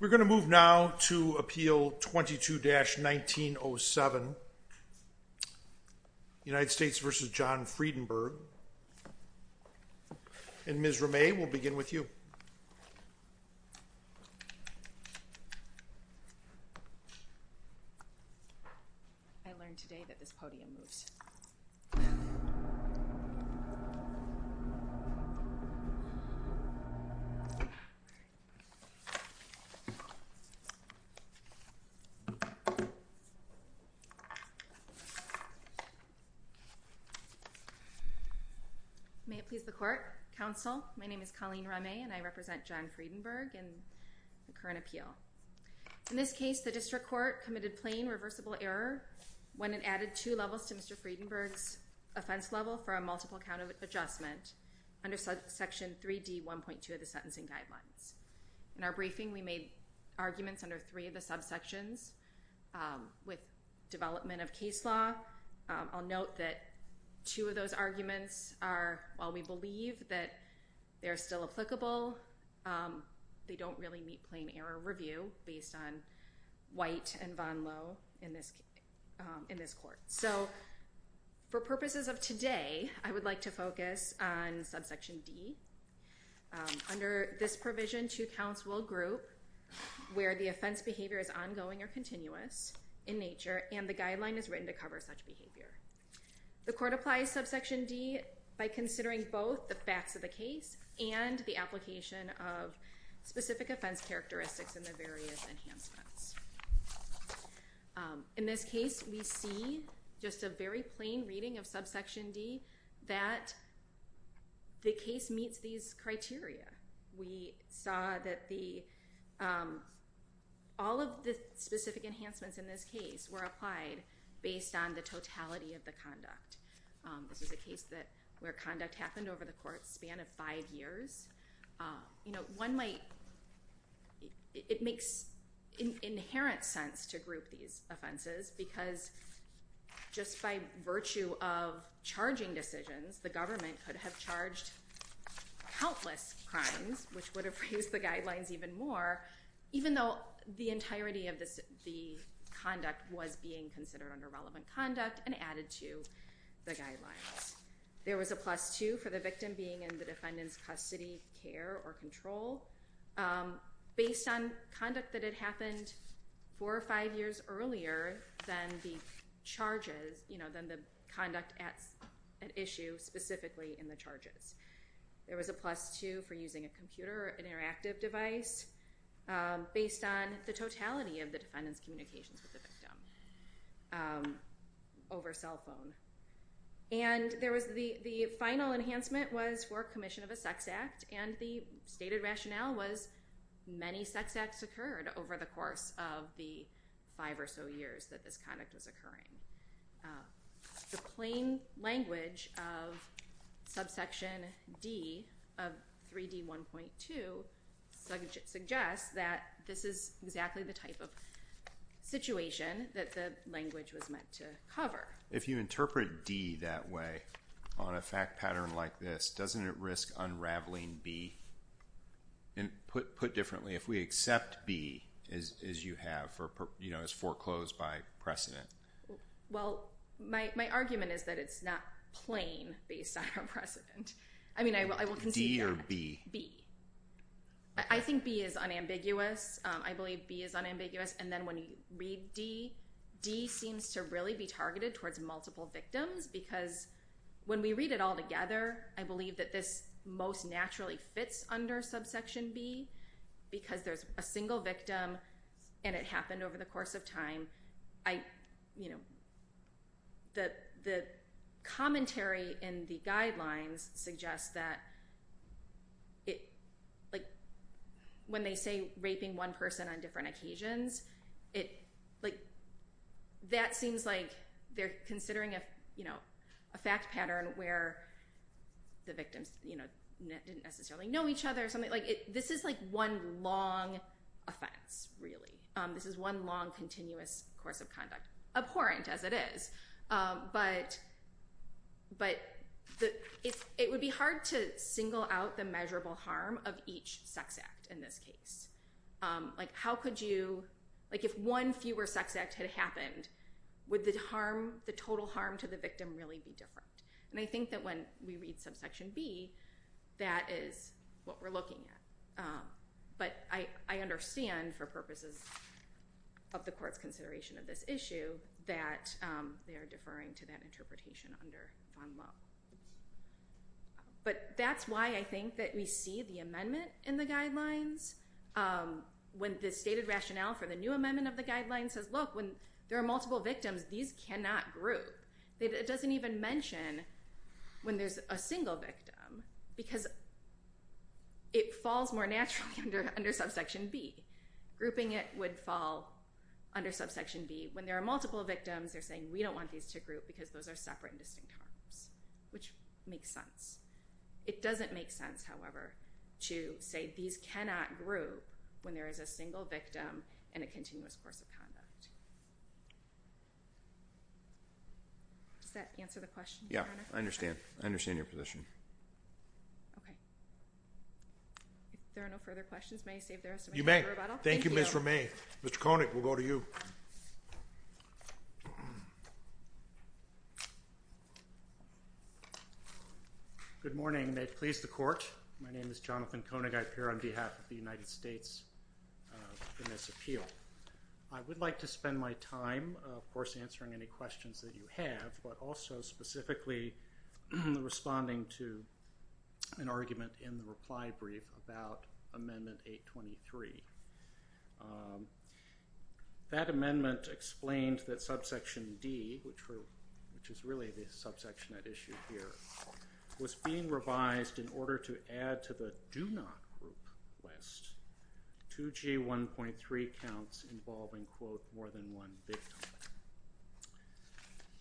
We're going to move now to Appeal 22-1907 United States v. John Fredenburgh and Ms. Ramay we'll begin with you. Colleen Ramay May it please the Court, Counsel, my name is Colleen Ramay and I represent John Fredenburgh in the current appeal. In this case the District Court committed plain reversible error when it added two levels to Mr. Fredenburgh's offense level for a multiple count of adjustment under Section 3D 1.2 of the licensing guidelines. In our briefing we made arguments under three of the subsections with development of case law. I'll note that two of those arguments are while we believe that they're still applicable they don't really meet plain error review based on White and Von Lowe in this court. So for purposes of today I would like to focus on subsection D. Under this provision two counts will group where the offense behavior is ongoing or continuous in nature and the guideline is written to cover such behavior. The Court applies subsection D by considering both the facts of the case and the application of specific offense characteristics and the various enhancements. In this case we see just a very plain reading of subsection D that the case meets these criteria. We saw that the all of the specific enhancements in this case were applied based on the totality of the conduct. This is a case that where conduct happened over the court span of five years. It makes inherent sense to group these offenses because just by virtue of charging decisions the government could have charged countless crimes which would have raised the guidelines even more even though the entirety of the conduct was being considered under relevant conduct and added to the guidelines. There was a plus two for the victim being in the defendant's custody care or control based on conduct that had happened four or five years earlier than the charges you know than the conduct at an issue specifically in the charges. There was a plus two for using a computer or interactive device based on the totality of the defendant's communications with the victim over cell phone. And there was the final enhancement was for commission of a sex act and the stated rationale was many sex acts occurred over the course of the five or so years that this conduct was occurring. The plain language of subsection D of 3D1.2 suggests that this is exactly the type of situation that the language was meant to cover. If you interpret D that way on a fact pattern like this doesn't it risk unraveling B put differently if we accept B as you have for you know as foreclosed by precedent? Well my argument is that it's not plain based on a precedent. I mean I will concede that. D or B? B. I think B is unambiguous. I believe B is unambiguous and then when you read D, D seems to really be targeted towards multiple victims because when we read it all together I believe that this most naturally fits under subsection B because there's a single victim and it happened over the course of time. The commentary in the guidelines suggests that when they say raping one person on different occasions it like that seems like they're considering a fact pattern where the victims didn't necessarily know each other. This is like one long offense really. This is one long continuous course of conduct, abhorrent as it is, but it would be hard to single out the measurable harm of each sex act in this case. How could you, like if one fewer sex act had happened would the harm, the total harm to the victim really be different? And I think that when we read subsection B that is what we're looking at. But I understand for purposes of the court's consideration of this issue that they are deferring to that interpretation under FONLO. But that's why I think that we see the amendment in the guidelines when the stated rationale for the new amendment of the guidelines says look when there are multiple victims these cannot group. It doesn't even mention when there's a single victim because it falls more naturally under subsection B. Grouping it would fall under subsection B. When there are multiple victims they're saying we don't want these to group because those are separate and distinct harms, which makes sense. It doesn't make sense, however, to say these cannot group when there is a single victim and a continuous course of conduct. Does that answer the question, Your Honor? Yeah, I understand. I understand your position. Okay. If there are no further questions, may I save the rest of my time for rebuttal? Thank you. Thank you, Ms. Romain. Mr. Koenig, we'll go to you. Good morning. May it please the court. My name is Jonathan Koenig. I appear on behalf of the United States in this appeal. I would like to spend my time, of course, answering any questions that you have, but also specifically responding to an argument in the reply brief about Amendment 823. That amendment explained that subsection D, which is really the subsection at issue here, was being revised in order to add to the do not group list 2G1.3 counts involving, quote, more than one victim.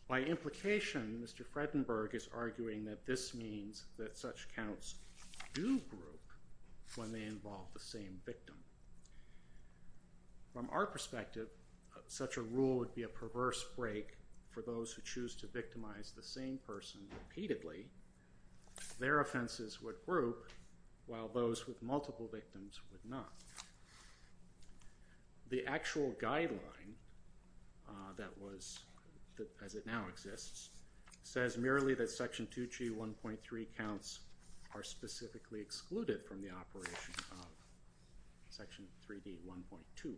By implication, Mr. Fredenberg is arguing that this means that such counts do group when they involve the same victim. From our perspective, such a rule would be a perverse break for those who choose to victimize the same person repeatedly. Their offenses would group while those with multiple victims would not. The actual guideline that was, as it now exists, says merely that section 2G1.3 counts are specifically excluded from the operation of section 3D1.2.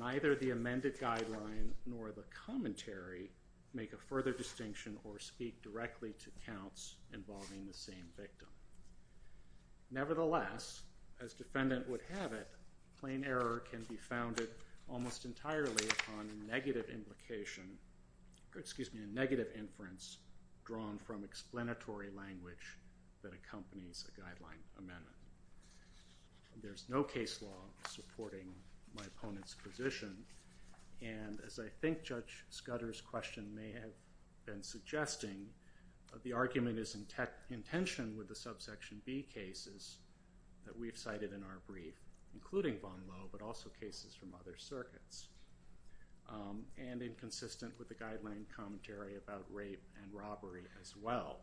Neither the amended guideline nor the commentary make a further distinction or speak directly to counts involving the same victim. Nevertheless, as defendant would have it, plain error can be founded almost entirely upon negative implication, excuse me, negative inference drawn from explanatory language that accompanies a guideline amendment. There's no case law supporting my opponent's position, and as I think Judge Scudder's question may have been suggesting, the argument is in tension with the subsection B cases that we've cited in our brief, including Von Lowe, but also cases from other circuits, and inconsistent with the guideline commentary about rape and robbery as well.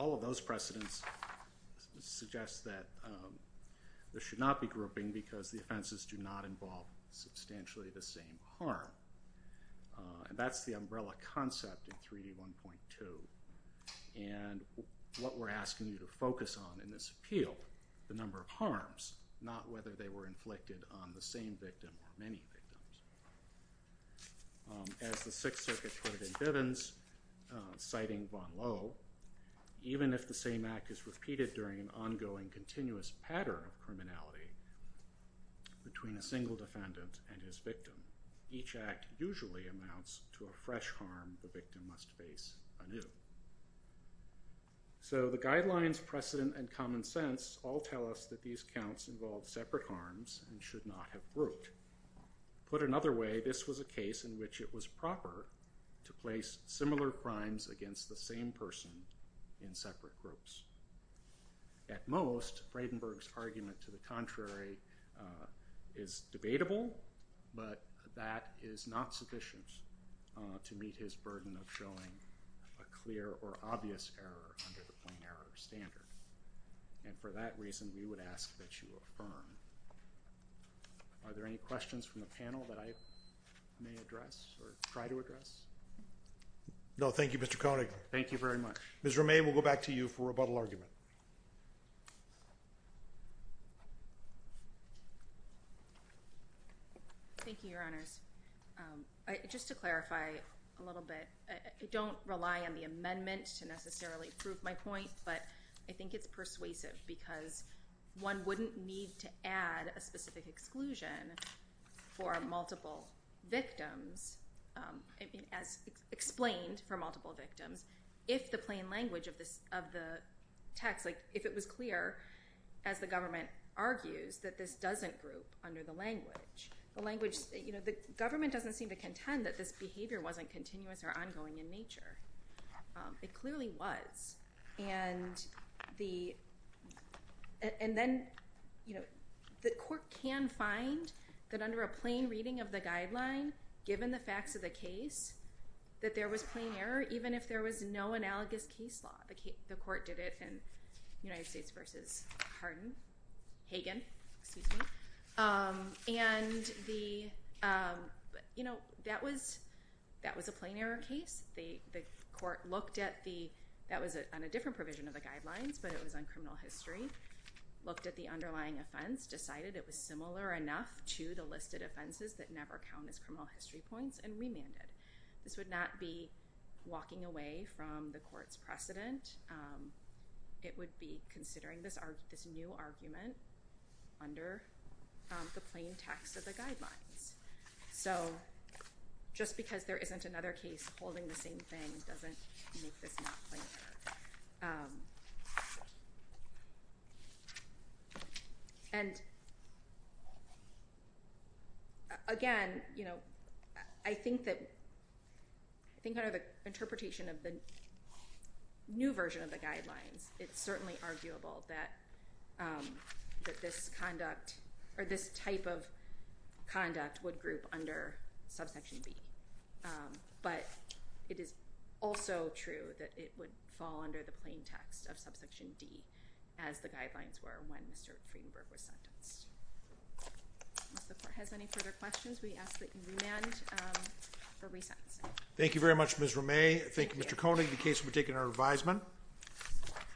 All of those precedents suggest that there should not be grouping because the offenses do not involve substantially the same harm, and that's the umbrella concept in 3D1.2, and what we're asking you to focus on in this appeal, the number of harms, not whether they were inflicted on the same victim or many victims. As the Sixth Circuit put it in Bivens, citing Von Lowe, even if the same act is repeated during an ongoing continuous pattern of criminality between a single defendant and his victim, each act usually amounts to a fresh harm the victim must face anew. So the guidelines, precedent, and common sense all tell us that these counts involve separate harms and should not have grouped. Put another way, this was a case in which it was proper to place similar crimes against the same person in separate groups. At most, Fradenberg's argument to the contrary is debatable, but that is not sufficient to meet his burden of showing a clear or obvious error under the plain error standard, and for that reason we would ask that you affirm. Are there any questions from the panel that I may address or try to address? No, thank you, Mr. Koenig. Thank you very much. Ms. Romain, we'll go back to you for a rebuttal argument. Thank you, Your Honors. Just to clarify a little bit, I don't rely on the amendment to necessarily prove my point, but I think it's persuasive because one wouldn't need to add a specific exclusion for multiple victims, as explained for multiple victims, if the plain language of the text, if it was clear, as the government argues, that this doesn't group under the language. The government doesn't seem to contend that this behavior wasn't continuous or ongoing in nature. It clearly was, and then the court can find that under a plain reading of the guideline, given the facts of the case, that there was plain error, even if there was no analogous case law. The court did it in United States v. Hagen, and that was a plain error case. The court looked at the—that was on a different provision of the guidelines, but it was on criminal history—looked at the underlying offense, decided it was similar enough to the listed offenses that never count as criminal history points, and remanded. This would not be walking away from the court's precedent. It would be considering this new argument under the plain text of the guidelines. So, just because there isn't another case holding the same thing doesn't make this not plain error. And, again, you know, I think that—I think under the interpretation of the new version of the guidelines, it's certainly arguable that this conduct—or this type of conduct would group under subsection B, but it is also true that it would fall under the plain text of subsection D, as the guidelines were when Mr. Friedenberg was sentenced. If the court has any further questions, we ask that you remand for resentencing. Thank you very much, Ms. Romay. Thank you, Mr. Koenig, the case will be taken under revisement.